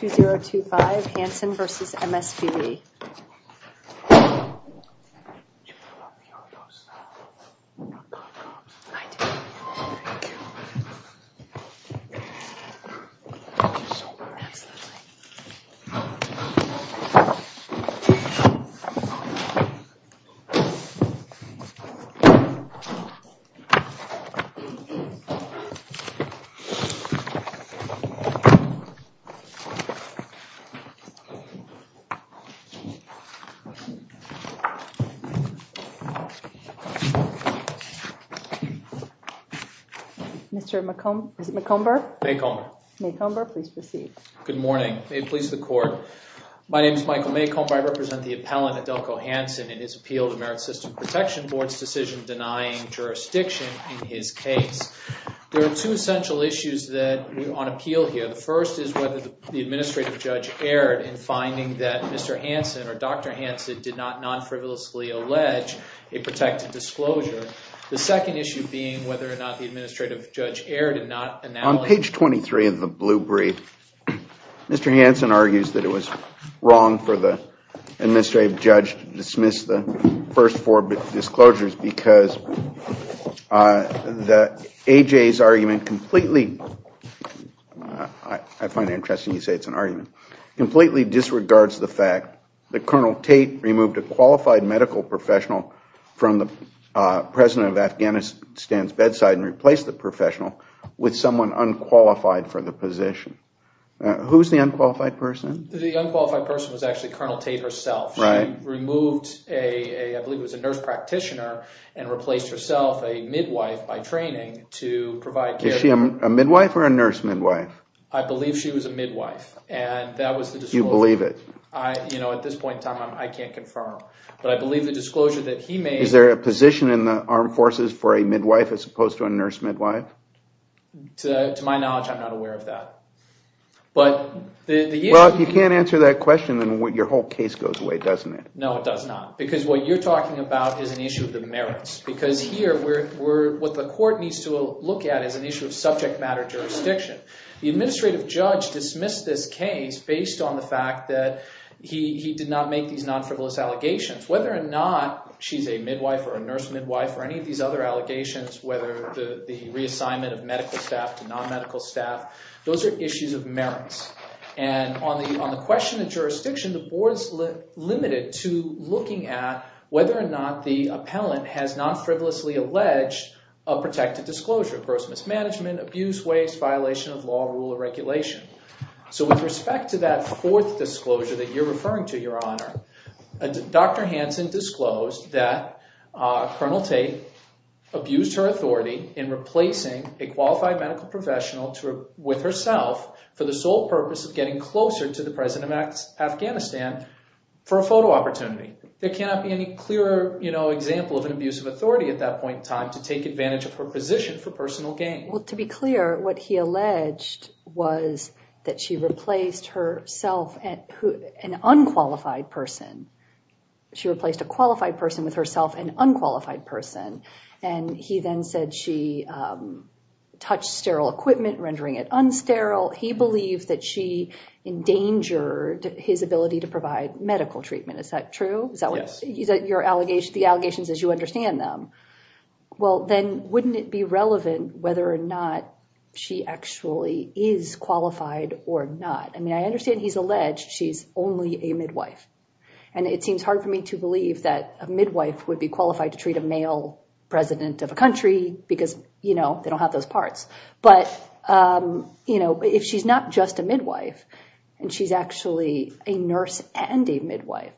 2025 Hansen v. MSPB Mr. Maycomber, please proceed. Good morning. May it please the Court. My name is Michael Maycomber. I represent the appellant Adelko Hansen in his appeal to the Merit System Protection Board's decision denying jurisdiction in his case. There are two essential issues on appeal here. The first is whether the administrative judge erred in finding that Mr. Hansen or Dr. Hansen did not non-frivolously allege a protected disclosure. The second issue being whether or not the administrative judge erred in not analyzing... On page 23 of the blue brief, Mr. Hansen argues that it was wrong for the administrative judge to dismiss the first four disclosures because AJ's argument completely... President of Afghanistan's bedside and replace the professional with someone unqualified for the position. Who's the unqualified person? The unqualified person was actually Colonel Tate herself. She removed a nurse practitioner and replaced herself a midwife by training to provide care... Is she a midwife or a nurse midwife? I believe she was a midwife. You believe it? At this point in time, I can't confirm. But I believe the disclosure that he made... Is there a position in the armed forces for a midwife as opposed to a nurse midwife? To my knowledge, I'm not aware of that. Well, if you can't answer that question, then your whole case goes away, doesn't it? No, it does not. Because what you're talking about is an issue of the merits. Because here, what the court needs to look at is an issue of subject matter jurisdiction. The administrative judge dismissed this case based on the fact that he did not make these non-frivolous allegations. Whether or not she's a midwife or a nurse midwife or any of these other allegations, whether the reassignment of medical staff to non-medical staff, those are issues of merits. And on the question of jurisdiction, the board is limited to looking at whether or not the appellant has non-frivolously alleged a protected disclosure of gross mismanagement, abuse, waste, violation of law, rule, or regulation. So with respect to that fourth disclosure that you're referring to, Your Honor, Dr. Hansen disclosed that Colonel Tate abused her authority in replacing a qualified medical professional with herself for the sole purpose of getting closer to the President of Afghanistan for a photo opportunity. There cannot be any clearer example of an abuse of authority at that point in time to take advantage of her position for personal gain. Well, to be clear, what he alleged was that she replaced herself, an unqualified person. She replaced a qualified person with herself, an unqualified person. And he then said she touched sterile equipment, rendering it unsterile. He believed that she endangered his ability to provide medical treatment. Is that true? Yes. The allegations as you understand them. Well, then wouldn't it be relevant whether or not she actually is qualified or not? I mean, I understand he's alleged she's only a midwife. And it seems hard for me to believe that a midwife would be qualified to treat a male president of a country because, you know, they don't have those parts. But, you know, if she's not just a midwife and she's actually a nurse and a midwife,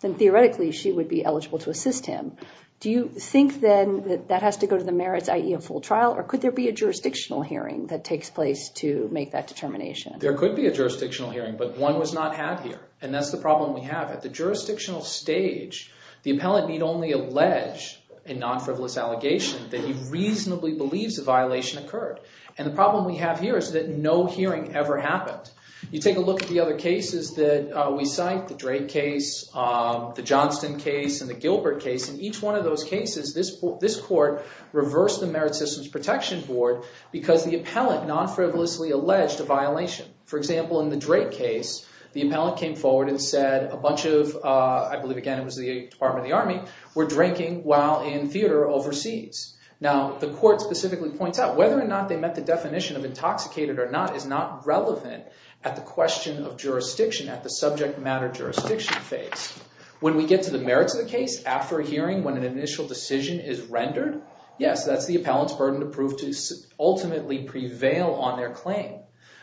then theoretically she would be eligible to assist him. Do you think then that that has to go to the merits, i.e. a full trial? Or could there be a jurisdictional hearing that takes place to make that determination? There could be a jurisdictional hearing, but one was not had here. And that's the problem we have. At the jurisdictional stage, the appellant need only allege a non-frivolous allegation that he reasonably believes a violation occurred. And the problem we have here is that no hearing ever happened. You take a look at the other cases that we cite, the Drake case, the Johnston case, and the Gilbert case. In each one of those cases, this court reversed the Merit Systems Protection Board because the appellant non-frivolously alleged a violation. For example, in the Drake case, the appellant came forward and said a bunch of – I believe, again, it was the Department of the Army – were drinking while in theater overseas. Now, the court specifically points out whether or not they met the definition of intoxicated or not is not relevant at the question of jurisdiction, at the subject matter jurisdiction phase. When we get to the merits of the case after a hearing when an initial decision is rendered, yes, that's the appellant's burden to prove to ultimately prevail on their claim.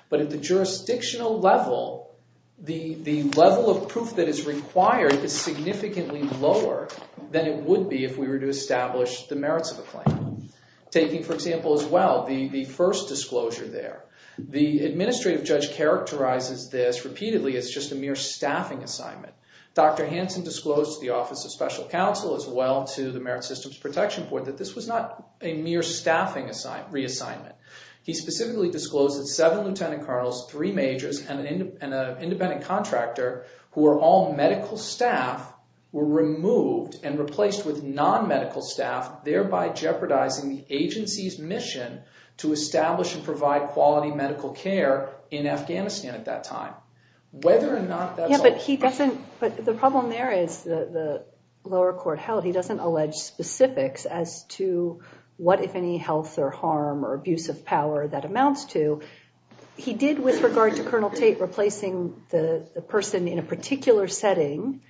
But at the jurisdictional level, the level of proof that is required is significantly lower than it would be if we were to establish the merits of a claim. Taking, for example, as well, the first disclosure there, the administrative judge characterizes this repeatedly as just a mere staffing assignment. Dr. Hansen disclosed to the Office of Special Counsel as well to the Merit Systems Protection Board that this was not a mere staffing reassignment. He specifically disclosed that seven lieutenant colonels, three majors, and an independent contractor who were all medical staff were removed and replaced with non-medical staff, thereby jeopardizing the agency's mission to establish and provide quality medical care in Afghanistan at that time. But the problem there is the lower court held he doesn't allege specifics as to what, if any, health or harm or abuse of power that amounts to. He did, with regard to Colonel Tate replacing the person in a particular setting,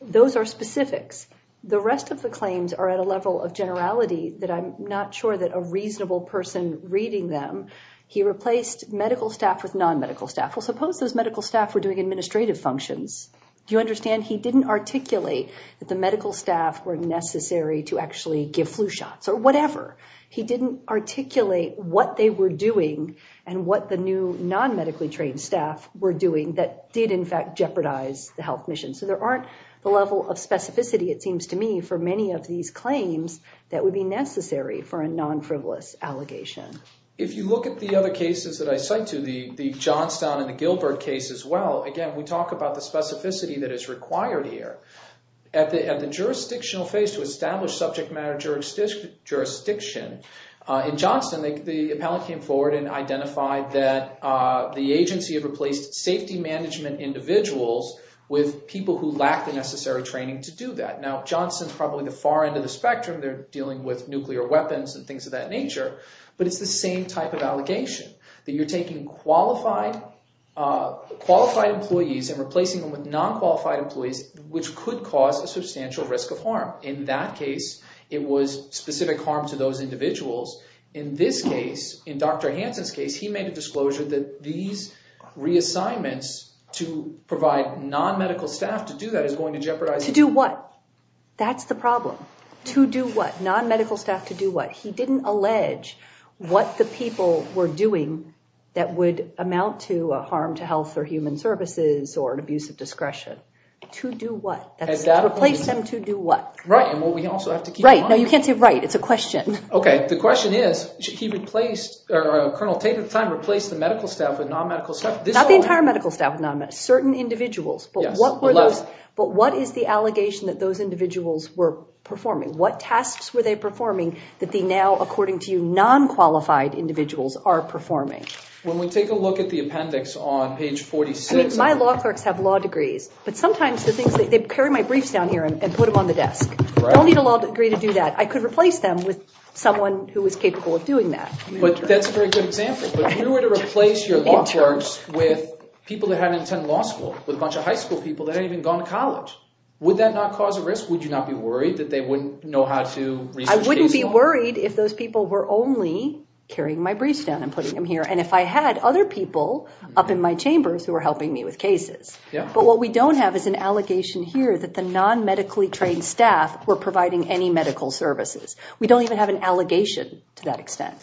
those are specifics. The rest of the claims are at a level of generality that I'm not sure that a reasonable person reading them, he replaced medical staff with non-medical staff. Well, suppose those medical staff were doing administrative functions. Do you understand he didn't articulate that the medical staff were necessary to actually give flu shots or whatever? He didn't articulate what they were doing and what the new non-medically trained staff were doing that did, in fact, jeopardize the health mission. So there aren't the level of specificity, it seems to me, for many of these claims that would be necessary for a non-frivolous allegation. If you look at the other cases that I cite to, the Johnstown and the Gilbert case as well, again, we talk about the specificity that is required here. At the jurisdictional phase to establish subject matter jurisdiction, in Johnstown, the appellate came forward and identified that the agency had replaced safety management individuals with people who lacked the necessary training to do that. Now, Johnstown's probably the far end of the spectrum. They're dealing with nuclear weapons and things of that nature. But it's the same type of allegation, that you're taking qualified employees and replacing them with non-qualified employees, which could cause a substantial risk of harm. In that case, it was specific harm to those individuals. In this case, in Dr. Hansen's case, he made a disclosure that these reassignments to provide non-medical staff to do that is going to jeopardize— To do what? That's the problem. To do what? Non-medical staff to do what? He didn't allege what the people were doing that would amount to a harm to health or human services or an abuse of discretion. To do what? To replace them to do what? Right. Well, we also have to keep in mind— Right. No, you can't say right. It's a question. Okay. The question is, should he replace—or, Colonel, take the time to replace the medical staff with non-medical staff? Not the entire medical staff with non-medical—certain individuals. Yes. But what is the allegation that those individuals were performing? What tasks were they performing that the now, according to you, non-qualified individuals are performing? When we take a look at the appendix on page 46— I mean, my law clerks have law degrees, but sometimes the things that—they carry my briefs down here and put them on the desk. Right. I don't need a law degree to do that. I could replace them with someone who is capable of doing that. But that's a very good example. But if you were to replace your law clerks with people that hadn't attended law school, with a bunch of high school people that hadn't even gone to college, would that not cause a risk? Would you not be worried that they wouldn't know how to research cases? I wouldn't be worried if those people were only carrying my briefs down and putting them here and if I had other people up in my chambers who were helping me with cases. Yeah. But what we don't have is an allegation here that the non-medically trained staff were providing any medical services. We don't even have an allegation to that extent.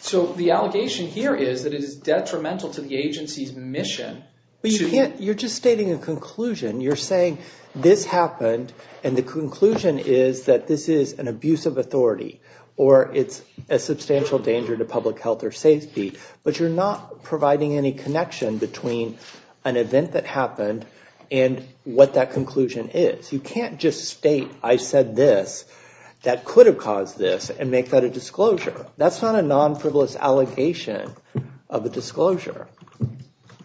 So the allegation here is that it is detrimental to the agency's mission to— But you can't—you're just stating a conclusion. You're saying this happened and the conclusion is that this is an abuse of authority or it's a substantial danger to public health or safety. But you're not providing any connection between an event that happened and what that conclusion is. You can't just state I said this. That could have caused this and make that a disclosure. That's not a non-frivolous allegation of a disclosure.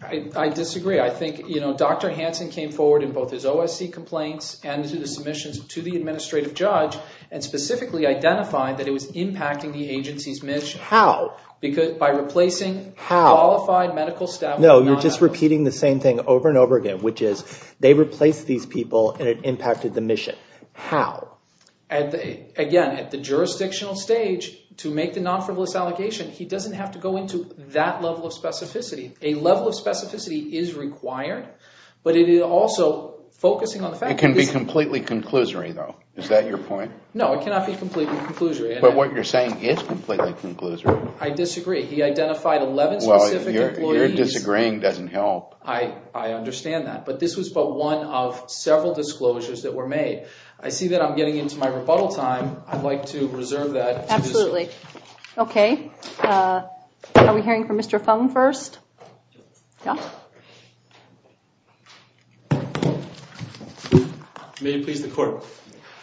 I disagree. I think Dr. Hansen came forward in both his OSC complaints and his submissions to the administrative judge and specifically identified that it was impacting the agency's mission. How? Because by replacing qualified medical staff— No, you're just repeating the same thing over and over again, which is they replaced these people and it impacted the mission. How? Again, at the jurisdictional stage, to make the non-frivolous allegation, he doesn't have to go into that level of specificity. A level of specificity is required, but it is also focusing on the fact— It can be completely conclusory though. Is that your point? No, it cannot be completely conclusory. But what you're saying is completely conclusory. I disagree. Well, your disagreeing doesn't help. I understand that. But this was but one of several disclosures that were made. I see that I'm getting into my rebuttal time. I'd like to reserve that. Absolutely. Okay. Are we hearing from Mr. Fung first? Yes. May it please the court.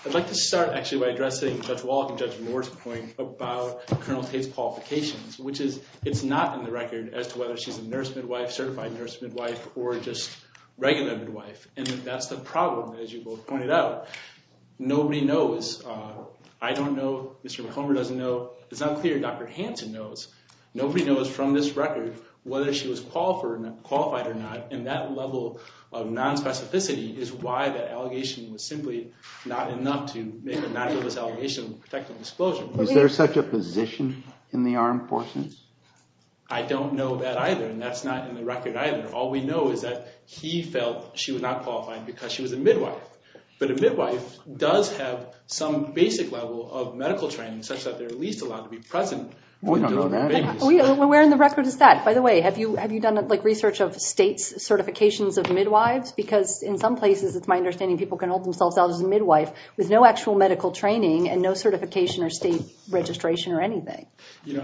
I'd like to start actually by addressing Judge Wallach and Judge Moore's point about Colonel Tate's qualifications, which is it's not in the record as to whether she's a nurse midwife, certified nurse midwife, or just regular midwife. And that's the problem, as you both pointed out. Nobody knows. I don't know. Mr. McCormick doesn't know. It's not clear Dr. Hansen knows. Nobody knows from this record whether she was qualified or not. And that level of nonspecificity is why that allegation was simply not enough to make a nondualist allegation of protective disclosure. Is there such a position in the armed forces? I don't know that either. And that's not in the record either. All we know is that he felt she was not qualified because she was a midwife. But a midwife does have some basic level of medical training such that they're at least allowed to be present. We don't know that. Where in the record is that? By the way, have you done research of states' certifications of midwives? Because in some places, it's my understanding people can hold themselves out as a midwife with no actual medical training and no certification or state registration or anything.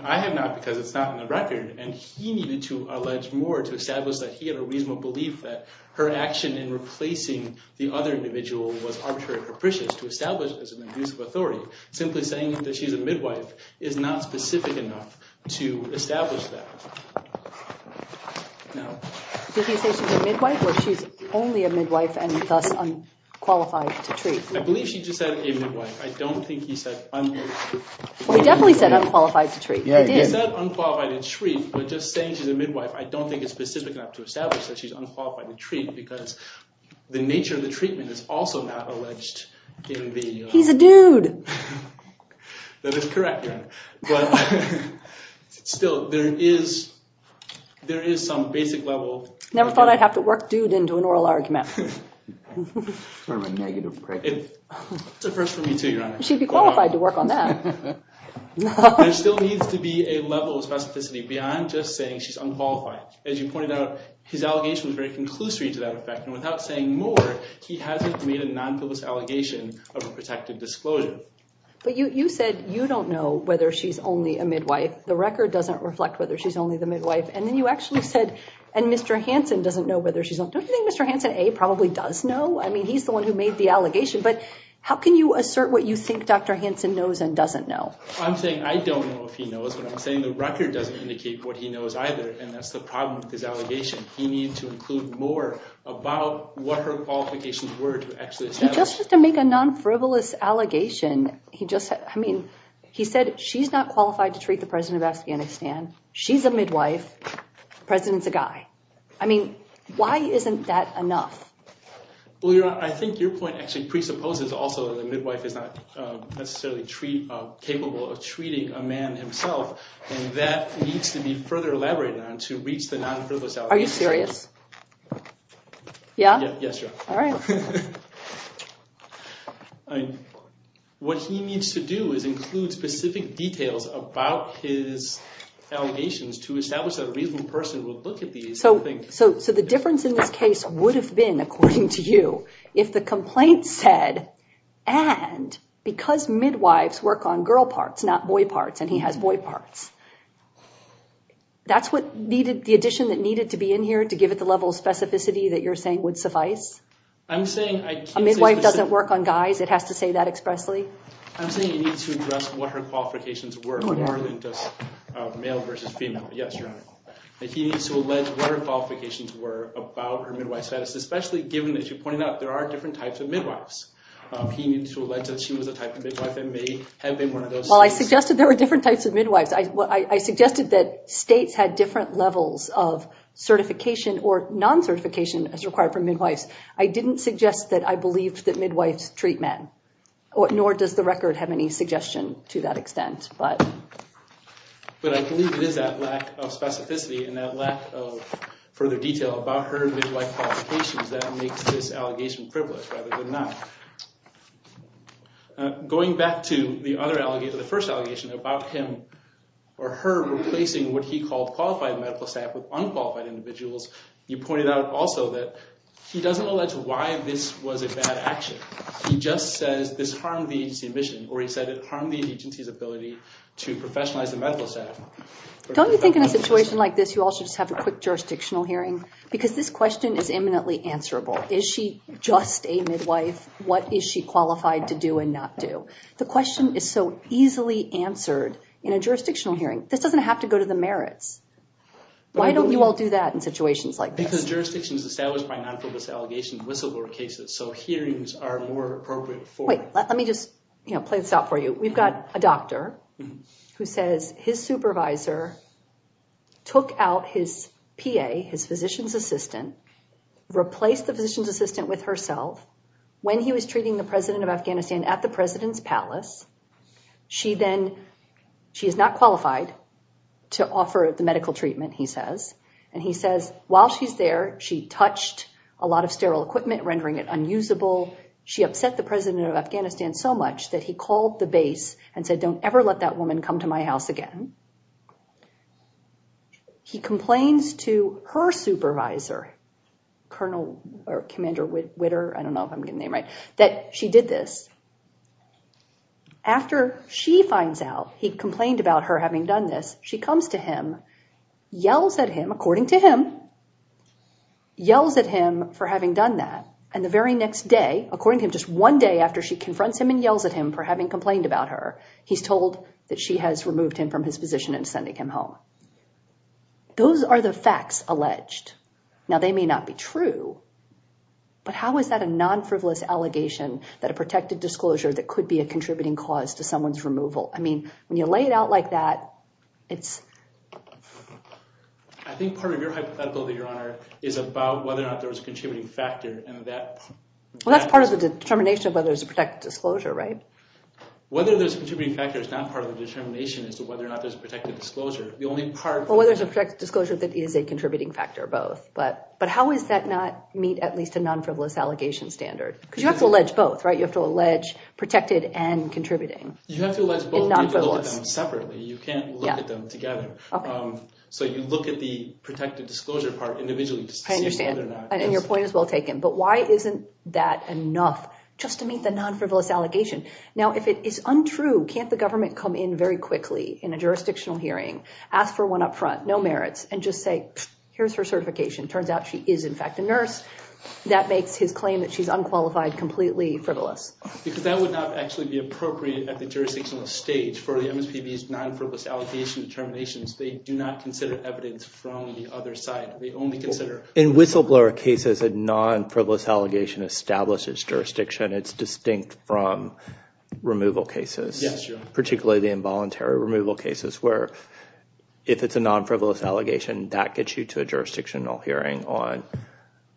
I have not because it's not in the record. And he needed to allege more to establish that he had a reasonable belief that her action in replacing the other individual was arbitrary and capricious to establish as an abusive authority. Simply saying that she's a midwife is not specific enough to establish that. Did he say she's a midwife or she's only a midwife and thus unqualified to treat? I believe she just said a midwife. I don't think he said unqualified. Well, he definitely said unqualified to treat. He said unqualified to treat, but just saying she's a midwife, I don't think it's specific enough to establish that she's unqualified to treat because the nature of the treatment is also not alleged in the- He's a dude. That is correct, Your Honor. But still, there is some basic level- Never thought I'd have to work dude into an oral argument. Sort of a negative credit. It's a first for me too, Your Honor. She'd be qualified to work on that. There still needs to be a level of specificity beyond just saying she's unqualified. As you pointed out, his allegation was very conclusory to that effect. And without saying more, he hasn't made a non-publicist allegation of a protected disclosure. But you said you don't know whether she's only a midwife. The record doesn't reflect whether she's only the midwife. And then you actually said, and Mr. Hansen doesn't know whether she's only- Don't you think Mr. Hansen, A, probably does know? I mean, he's the one who made the allegation. But how can you assert what you think Dr. Hansen knows and doesn't know? I'm saying I don't know if he knows, but I'm saying the record doesn't indicate what he knows either. And that's the problem with his allegation. He needed to include more about what her qualifications were to actually establish- He just has to make a non-frivolous allegation. He just- I mean, he said she's not qualified to treat the President of Afghanistan. She's a midwife. The President's a guy. I mean, why isn't that enough? Well, Your Honor, I think your point actually presupposes also that a midwife is not necessarily capable of treating a man himself. And that needs to be further elaborated on to reach the non-frivolous allegation. Are you serious? Yeah? Yes, Your Honor. All right. What he needs to do is include specific details about his allegations to establish that a reasonable person would look at these and think- So the difference in this case would have been, according to you, if the complaint said, and because midwives work on girl parts, not boy parts, and he has boy parts, that's what needed- the addition that needed to be in here to give it the level of specificity that you're saying would suffice? I'm saying- A midwife doesn't work on guys. It has to say that expressly? I'm saying he needs to address what her qualifications were more than just male versus female. Yes, Your Honor. He needs to allege what her qualifications were about her midwife status, especially given, as you pointed out, there are different types of midwives. He needs to allege that she was a type of midwife and may have been one of those- Well, I suggested there were different types of midwives. I suggested that states had different levels of certification or non-certification as required for midwives. I didn't suggest that I believed that midwives treat men, nor does the record have any suggestion to that extent. But I believe it is that lack of specificity and that lack of further detail about her midwife qualifications that makes this allegation privileged rather than not. Going back to the other allegation, the first allegation about him or her replacing what he called qualified medical staff with unqualified individuals, you pointed out also that he doesn't allege why this was a bad action. He just says this harmed the agency's mission, or he said it harmed the agency's ability to professionalize the medical staff. Don't you think in a situation like this you all should just have a quick jurisdictional hearing? Because this question is imminently answerable. Is she just a midwife? What is she qualified to do and not do? The question is so easily answered in a jurisdictional hearing. This doesn't have to go to the merits. Why don't you all do that in situations like this? Because jurisdiction is established by non-purpose allegation whistleblower cases. So hearings are more appropriate for it. Let me just play this out for you. We've got a doctor who says his supervisor took out his PA, his physician's assistant, replaced the physician's assistant with herself when he was treating the president of Afghanistan at the president's palace. She is not qualified to offer the medical treatment, he says. And he says, while she's there, she touched a lot of sterile equipment, rendering it unusable. She upset the president of Afghanistan so much that he called the base and said, don't ever let that woman come to my house again. He complains to her supervisor, Colonel or Commander Witter, I don't know if I'm getting the name right, that she did this. After she finds out he complained about her having done this, she comes to him, yells at him, according to him, yells at him for having done that. And the very next day, according to him, just one day after she confronts him and yells at him for having complained about her, he's told that she has removed him from his position and sending him home. Those are the facts alleged. Now, they may not be true. But how is that a non-frivolous allegation that a protected disclosure that could be a contributing cause to someone's removal? I mean, when you lay it out like that, it's... I think part of your hypothetical, Your Honor, is about whether or not there was a contributing factor and that... Well, that's part of the determination of whether there's a protected disclosure, right? Whether there's a contributing factor is not part of the determination as to whether or not there's a protected disclosure. Well, whether there's a protected disclosure that is a contributing factor or both. But how does that not meet at least a non-frivolous allegation standard? Because you have to allege both, right? You have to allege protected and contributing. You have to allege both. You can't look at them separately. You can't look at them together. So you look at the protected disclosure part individually just to see whether or not... I understand. And your point is well taken. But why isn't that enough just to meet the non-frivolous allegation? Now, if it is untrue, can't the government come in very quickly in a jurisdictional hearing, ask for one up front, no merits, and just say, here's her certification. Turns out she is, in fact, a nurse. That makes his claim that she's unqualified completely frivolous. Because that would not actually be appropriate at the jurisdictional stage for the MSPB's non-frivolous allegation determinations. They do not consider evidence from the other side. They only consider... In whistleblower cases, a non-frivolous allegation establishes jurisdiction. It's distinct from removal cases. Yes. Particularly the involuntary removal cases where if it's a non-frivolous allegation, that gets you to a jurisdictional hearing on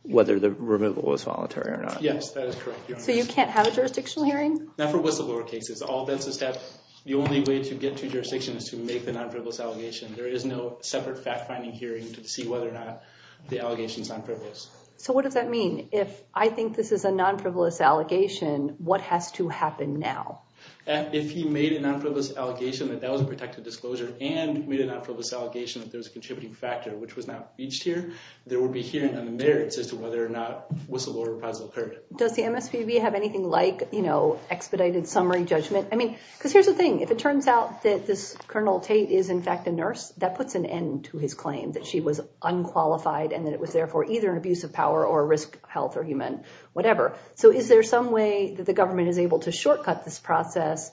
whether the removal was voluntary or not. Yes, that is correct. So you can't have a jurisdictional hearing? Not for whistleblower cases. All defenses have... The only way to get to jurisdiction is to make the non-frivolous allegation. There is no separate fact-finding hearing to see whether or not the allegation is non-frivolous. So what does that mean? If I think this is a non-frivolous allegation, what has to happen now? If he made a non-frivolous allegation that that was a protected disclosure and made a non-frivolous allegation that there was a contributing factor which was not breached here, there would be hearing on the merits as to whether or not whistleblower reprisal occurred. Does the MSPB have anything like expedited summary judgment? I mean, because here's the thing. If it turns out that this Colonel Tate is, in fact, a nurse, that puts an end to his claim that she was unqualified and that it was, therefore, either an abuse of power or a risk to health or human whatever. So is there some way that the government is able to shortcut this process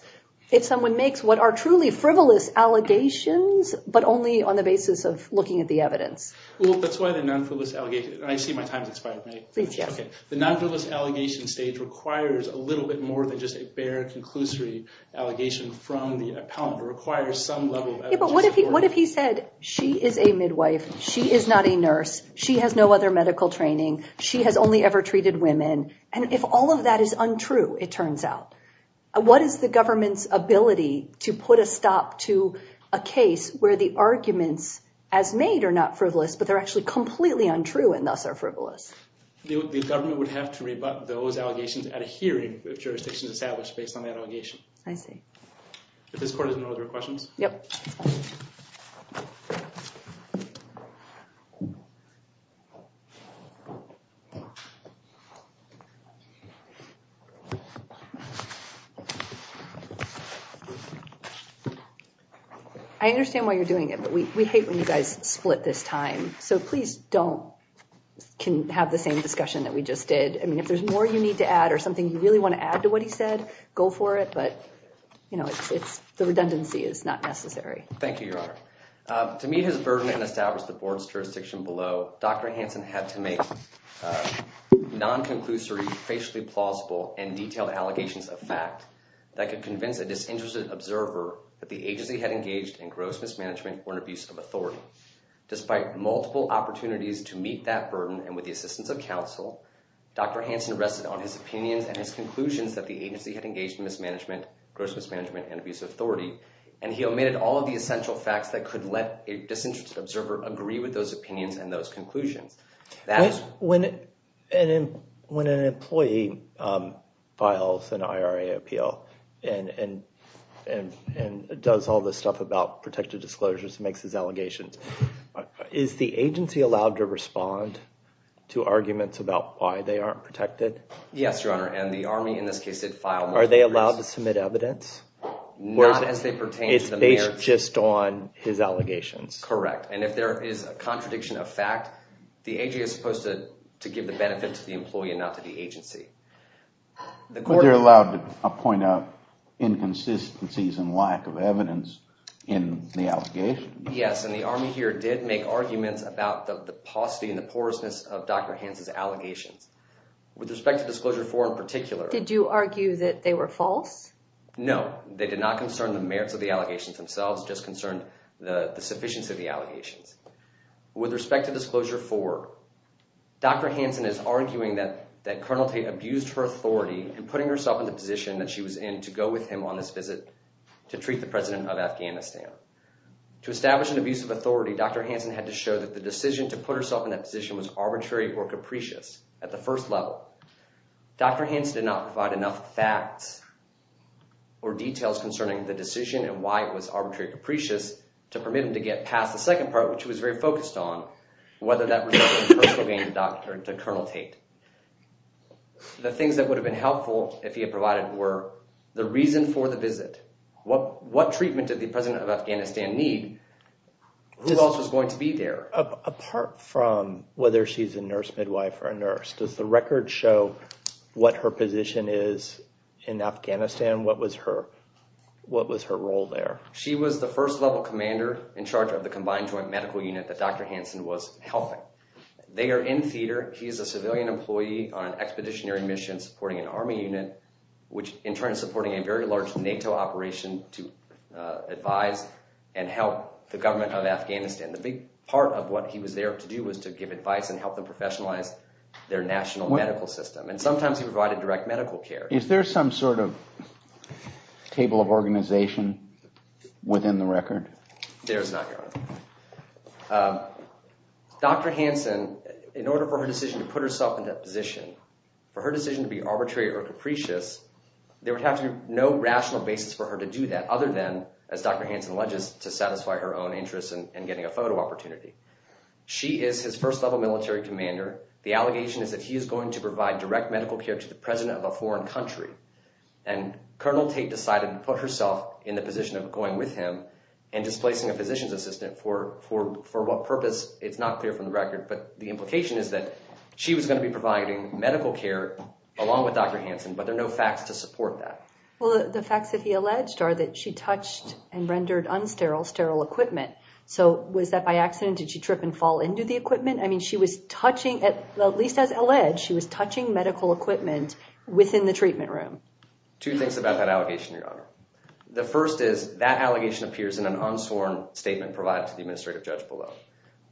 if someone makes what are truly frivolous allegations but only on the basis of looking at the evidence? Well, that's why the non-frivolous allegation... I see my time has expired, right? Please, yes. Okay, the non-frivolous allegation stage requires a little bit more than just a bare conclusory allegation from the appellant. It requires some level of evidence. Yeah, but what if he said she is a midwife, she is not a nurse, she has no other medical training, she has only ever treated women? And if all of that is untrue, it turns out, what is the government's ability to put a stop to a case where the arguments as made are not frivolous but they're actually completely untrue and thus are frivolous? The government would have to rebut those allegations at a hearing if jurisdiction is established based on that allegation. I see. If this court is in order, questions? Yep. I understand why you're doing it, but we hate when you guys split this time, so please don't have the same discussion that we just did. I mean, if there's more you need to add or something you really want to add to what he said, go for it, but the redundancy is not necessary. Thank you, Your Honor. To meet his burden and establish the board's jurisdiction below, Dr. Hansen had to make non-conclusory, facially plausible, and detailed allegations of fact that could convince a disinterested observer that the agency had engaged in gross mismanagement or abuse of authority. Despite multiple opportunities to meet that burden and with the assistance of counsel, Dr. Hansen rested on his opinions and his conclusions that the agency had engaged in mismanagement, gross mismanagement, and abuse of authority, and he omitted all of the essential facts that could let a disinterested observer agree with those opinions and those conclusions. When an employee files an IRA appeal and does all this stuff about protected disclosures and makes his allegations, is the agency allowed to respond to arguments about why they aren't protected? Yes, Your Honor, and the Army in this case did file multiple briefs. Are they allowed to submit evidence? Not as they pertain to the mayor. It's based just on his allegations? Correct, and if there is a contradiction of fact, the agency is supposed to give the benefit to the employee and not to the agency. But they're allowed to point out inconsistencies and lack of evidence in the allegations? Yes, and the Army here did make arguments about the paucity and the porousness of Dr. Hansen's allegations. With respect to Disclosure 4 in particular— Did you argue that they were false? No, they did not concern the merits of the allegations themselves, just concerned the sufficiency of the allegations. With respect to Disclosure 4, Dr. Hansen is arguing that Colonel Tate abused her authority in putting herself in the position that she was in to go with him on this visit to treat the president of Afghanistan. To establish an abuse of authority, Dr. Hansen had to show that the decision to put herself in that position was arbitrary or capricious at the first level. Dr. Hansen did not provide enough facts or details concerning the decision and why it was arbitrary or capricious to permit him to get past the second part, which he was very focused on, whether that resulted in personal gain to Colonel Tate. The things that would have been helpful if he had provided were the reason for the visit, what treatment did the president of Afghanistan need, who else was going to be there. Apart from whether she's a nurse midwife or a nurse, does the record show what her position is in Afghanistan? What was her role there? She was the first level commander in charge of the combined joint medical unit that Dr. Hansen was helping. They are in theater. He is a civilian employee on an expeditionary mission supporting an army unit, which in turn is supporting a very large NATO operation to advise and help the government of Afghanistan. The big part of what he was there to do was to give advice and help them professionalize their national medical system, and sometimes he provided direct medical care. Is there some sort of table of organization within the record? Dr. Hansen, in order for her decision to put herself in that position, for her decision to be arbitrary or capricious, there would have to be no rational basis for her to do that other than, as Dr. Hansen alleges, to satisfy her own interests in getting a photo opportunity. She is his first level military commander. The allegation is that he is going to provide direct medical care to the president of a foreign country, and Colonel Tate decided to put herself in the position of going with him and displacing a physician's assistant for what purpose. It's not clear from the record, but the implication is that she was going to be providing medical care along with Dr. Hansen, but there are no facts to support that. Well, the facts that he alleged are that she touched and rendered unsterile, sterile equipment. So was that by accident? Did she trip and fall into the equipment? I mean, she was touching, at least as alleged, she was touching medical equipment within the treatment room. Two things about that allegation, Your Honor. The first is that allegation appears in an unsworn statement provided to the administrative judge below.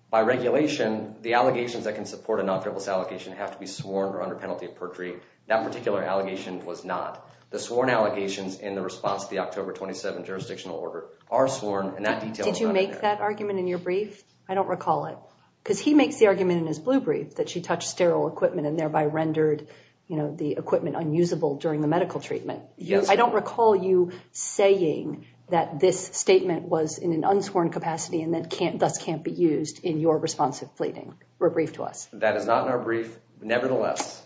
By regulation, the allegations that can support a non-fairless allegation have to be sworn or under penalty of perjury. That particular allegation was not. The sworn allegations in the response to the October 27 jurisdictional order are sworn, and that detail is not in there. Did you make that argument in your brief? I don't recall it. Because he makes the argument in his blue brief that she touched sterile equipment and thereby rendered the equipment unusable during the medical treatment. I don't recall you saying that this statement was in an unsworn capacity and thus can't be used in your response to fleeting. Rebrief to us. That is not in our brief, nevertheless.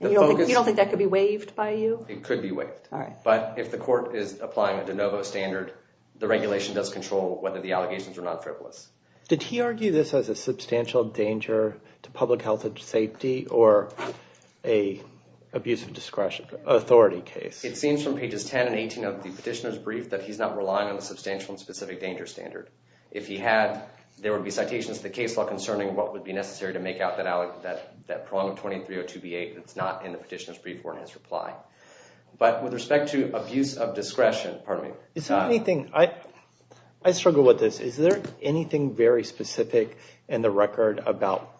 You don't think that could be waived by you? It could be waived. All right. But if the court is applying a de novo standard, the regulation does control whether the allegations are non-frivolous. Did he argue this as a substantial danger to public health and safety or an abuse of discretion, authority case? It seems from pages 10 and 18 of the petitioner's brief that he's not relying on a substantial and specific danger standard. If he had, there would be citations to the case law concerning what would be necessary to make out that prolonged 2302B8 that's not in the petitioner's brief or in his reply. But with respect to abuse of discretion, pardon me. I struggle with this. Is there anything very specific in the record about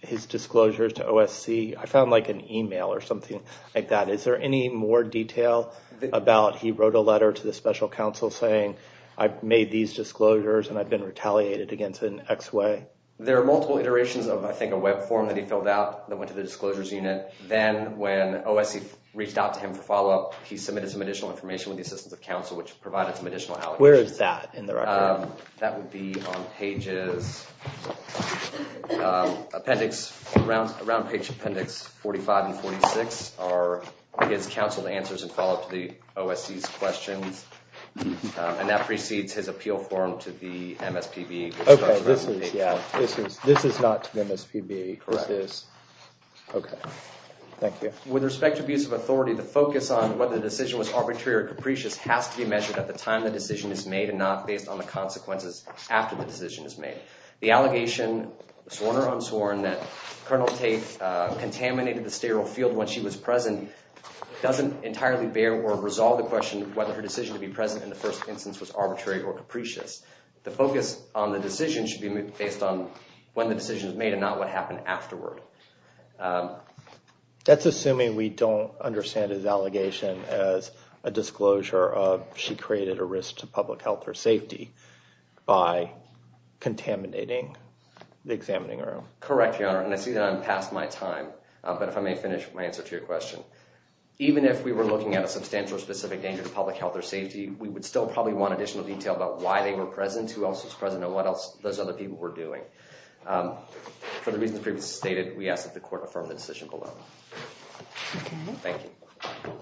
his disclosures to OSC? I found like an email or something like that. Is there any more detail about he wrote a letter to the special counsel saying I've made these disclosures and I've been retaliated against in X way? There are multiple iterations of, I think, a web form that he filled out that went to the disclosures unit. Then when OSC reached out to him for follow-up, he submitted some additional information with the assistance of counsel which provided some additional allegations. Where is that in the record? That would be on pages, appendix, around page appendix 45 and 46 are his counsel answers and follow-up to the OSC's questions. And that precedes his appeal form to the MSPB. This is not to the MSPB. Correct. Okay. Thank you. With respect to abuse of authority, the focus on whether the decision was arbitrary or capricious has to be measured at the time the decision is made and not based on the consequences after the decision is made. The allegation, sworn or unsworn, that Colonel Tate contaminated the sterile field when she was present doesn't entirely bear or resolve the question whether her decision to be present in the first instance was arbitrary or capricious. The focus on the decision should be based on when the decision is made and not what happened afterward. That's assuming we don't understand his allegation as a disclosure of she created a risk to public health or safety by contaminating the examining room. Correct, Your Honor, and I see that I'm past my time. But if I may finish my answer to your question. Even if we were looking at a substantial or specific danger to public health or safety, we would still probably want additional detail about why they were present, who else was present, and what else those other people were doing. For the reasons previously stated, we ask that the court affirm the decision below. Okay. Thank you.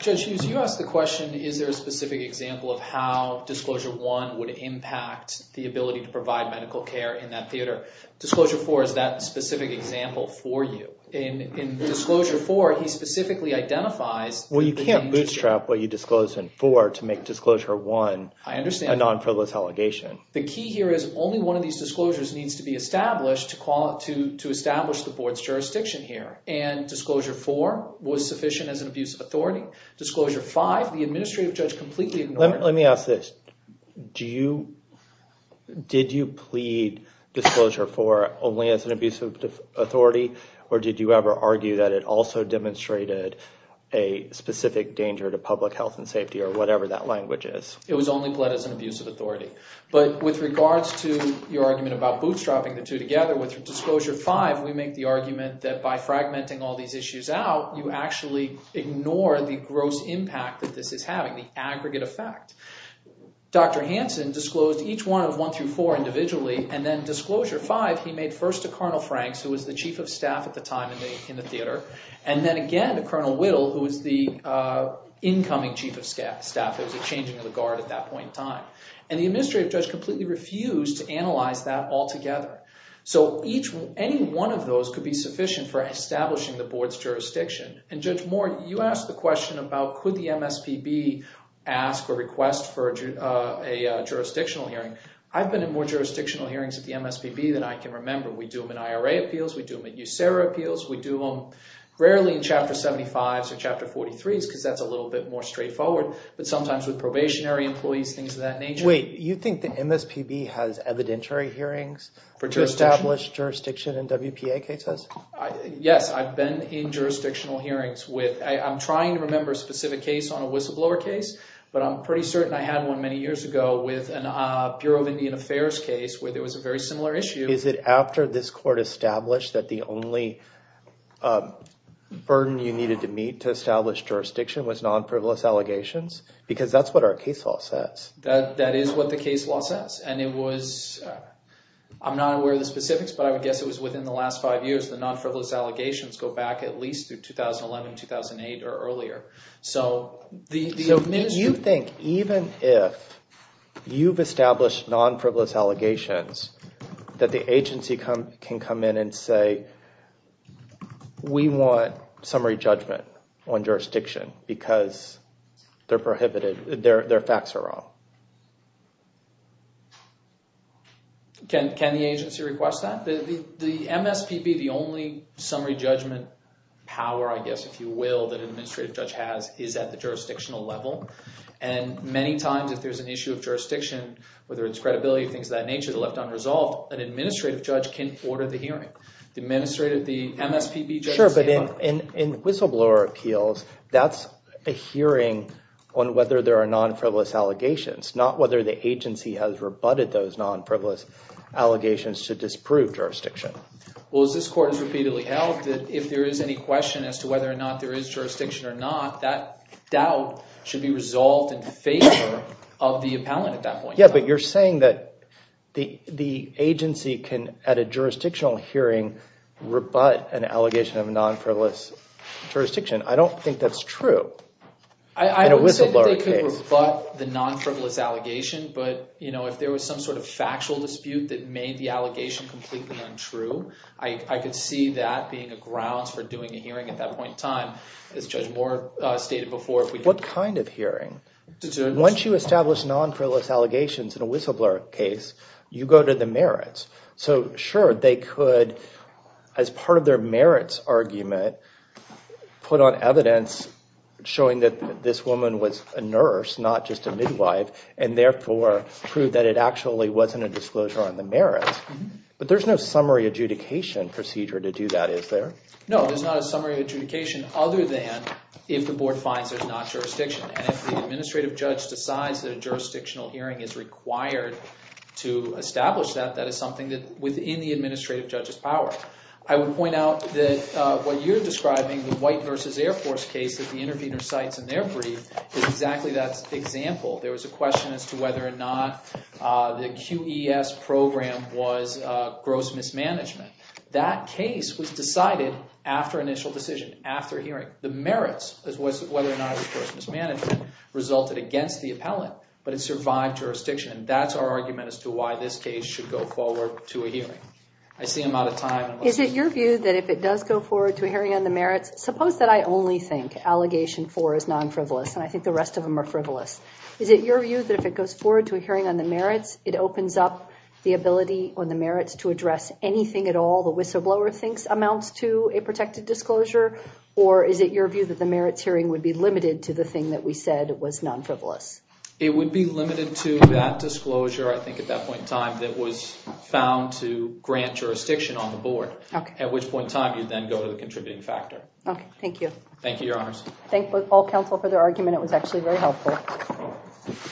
Judge Hughes, you asked the question, is there a specific example of how Disclosure I would impact the ability to provide medical care in that theater? Disclosure IV is that specific example for you. In Disclosure IV, he specifically identifies the danger. Well, you can't bootstrap what you disclosed in IV to make Disclosure I a non-frivolous allegation. I understand. The key here is only one of these disclosures needs to be established to establish the board's jurisdiction here, and Disclosure IV was sufficient as an abuse of authority. Disclosure V, the administrative judge completely ignored it. Let me ask this. Did you plead Disclosure IV only as an abuse of authority, or did you ever argue that it also demonstrated a specific danger to public health and safety or whatever that language is? With regards to your argument about bootstrapping the two together, with Disclosure V, we make the argument that by fragmenting all these issues out, you actually ignore the gross impact that this is having, the aggregate effect. Dr. Hansen disclosed each one of I through IV individually, and then Disclosure V, he made first to Colonel Franks, who was the chief of staff at the time in the theater, and then again to Colonel Whittle, who was the incoming chief of staff. It was a changing of the guard at that point in time. The administrative judge completely refused to analyze that altogether. Any one of those could be sufficient for establishing the board's jurisdiction. Judge Moore, you asked the question about could the MSPB ask or request for a jurisdictional hearing. I've been in more jurisdictional hearings at the MSPB than I can remember. We do them in IRA appeals. We do them in USERRA appeals. We do them rarely in Chapter 75s or Chapter 43s because that's a little bit more straightforward. But sometimes with probationary employees, things of that nature. Wait, you think the MSPB has evidentiary hearings to establish jurisdiction in WPA cases? Yes, I've been in jurisdictional hearings with – I'm trying to remember a specific case on a whistleblower case, but I'm pretty certain I had one many years ago with a Bureau of Indian Affairs case where there was a very similar issue. Is it after this court established that the only burden you needed to meet to establish jurisdiction was non-frivolous allegations? Because that's what our case law says. That is what the case law says, and it was – I'm not aware of the specifics, but I would guess it was within the last five years. The non-frivolous allegations go back at least through 2011, 2008, or earlier. So if you think even if you've established non-frivolous allegations that the agency can come in and say we want summary judgment on jurisdiction because they're prohibited, their facts are wrong. Can the agency request that? The MSPB, the only summary judgment power, I guess, if you will, that an administrative judge has is at the jurisdictional level. And many times if there's an issue of jurisdiction, whether it's credibility or things of that nature that are left unresolved, an administrative judge can order the hearing. The administrative – the MSPB judge can say – In whistleblower appeals, that's a hearing on whether there are non-frivolous allegations, not whether the agency has rebutted those non-frivolous allegations to disprove jurisdiction. Well, as this court has repeatedly held, if there is any question as to whether or not there is jurisdiction or not, that doubt should be resolved in favor of the appellant at that point. Yeah, but you're saying that the agency can, at a jurisdictional hearing, rebut an allegation of non-frivolous jurisdiction. I don't think that's true in a whistleblower case. I would say that they can rebut the non-frivolous allegation, but if there was some sort of factual dispute that made the allegation completely untrue, I could see that being a grounds for doing a hearing at that point in time, as Judge Moore stated before. What kind of hearing? Once you establish non-frivolous allegations in a whistleblower case, you go to the merits. So, sure, they could, as part of their merits argument, put on evidence showing that this woman was a nurse, not just a midwife, and therefore prove that it actually wasn't a disclosure on the merits. But there's no summary adjudication procedure to do that, is there? No, there's not a summary adjudication, other than if the board finds there's not jurisdiction. And if the administrative judge decides that a jurisdictional hearing is required to establish that, that is something that's within the administrative judge's power. I would point out that what you're describing, the White vs. Air Force case that the intervener cites in their brief, is exactly that example. There was a question as to whether or not the QES program was gross mismanagement. That case was decided after initial decision, after hearing. The merits, as well as whether or not it was gross mismanagement, resulted against the appellant, but it survived jurisdiction. And that's our argument as to why this case should go forward to a hearing. I see I'm out of time. Is it your view that if it does go forward to a hearing on the merits, suppose that I only think allegation 4 is non-frivolous, and I think the rest of them are frivolous. Is it your view that if it goes forward to a hearing on the merits, it opens up the ability on the merits to address anything at all the whistleblower thinks amounts to a protected disclosure? Or is it your view that the merits hearing would be limited to the thing that we said was non-frivolous? It would be limited to that disclosure, I think at that point in time, that was found to grant jurisdiction on the board. Okay. At which point in time, you'd then go to the contributing factor. Okay, thank you. Thank you, Your Honors. Thank all counsel for their argument. It was actually very helpful.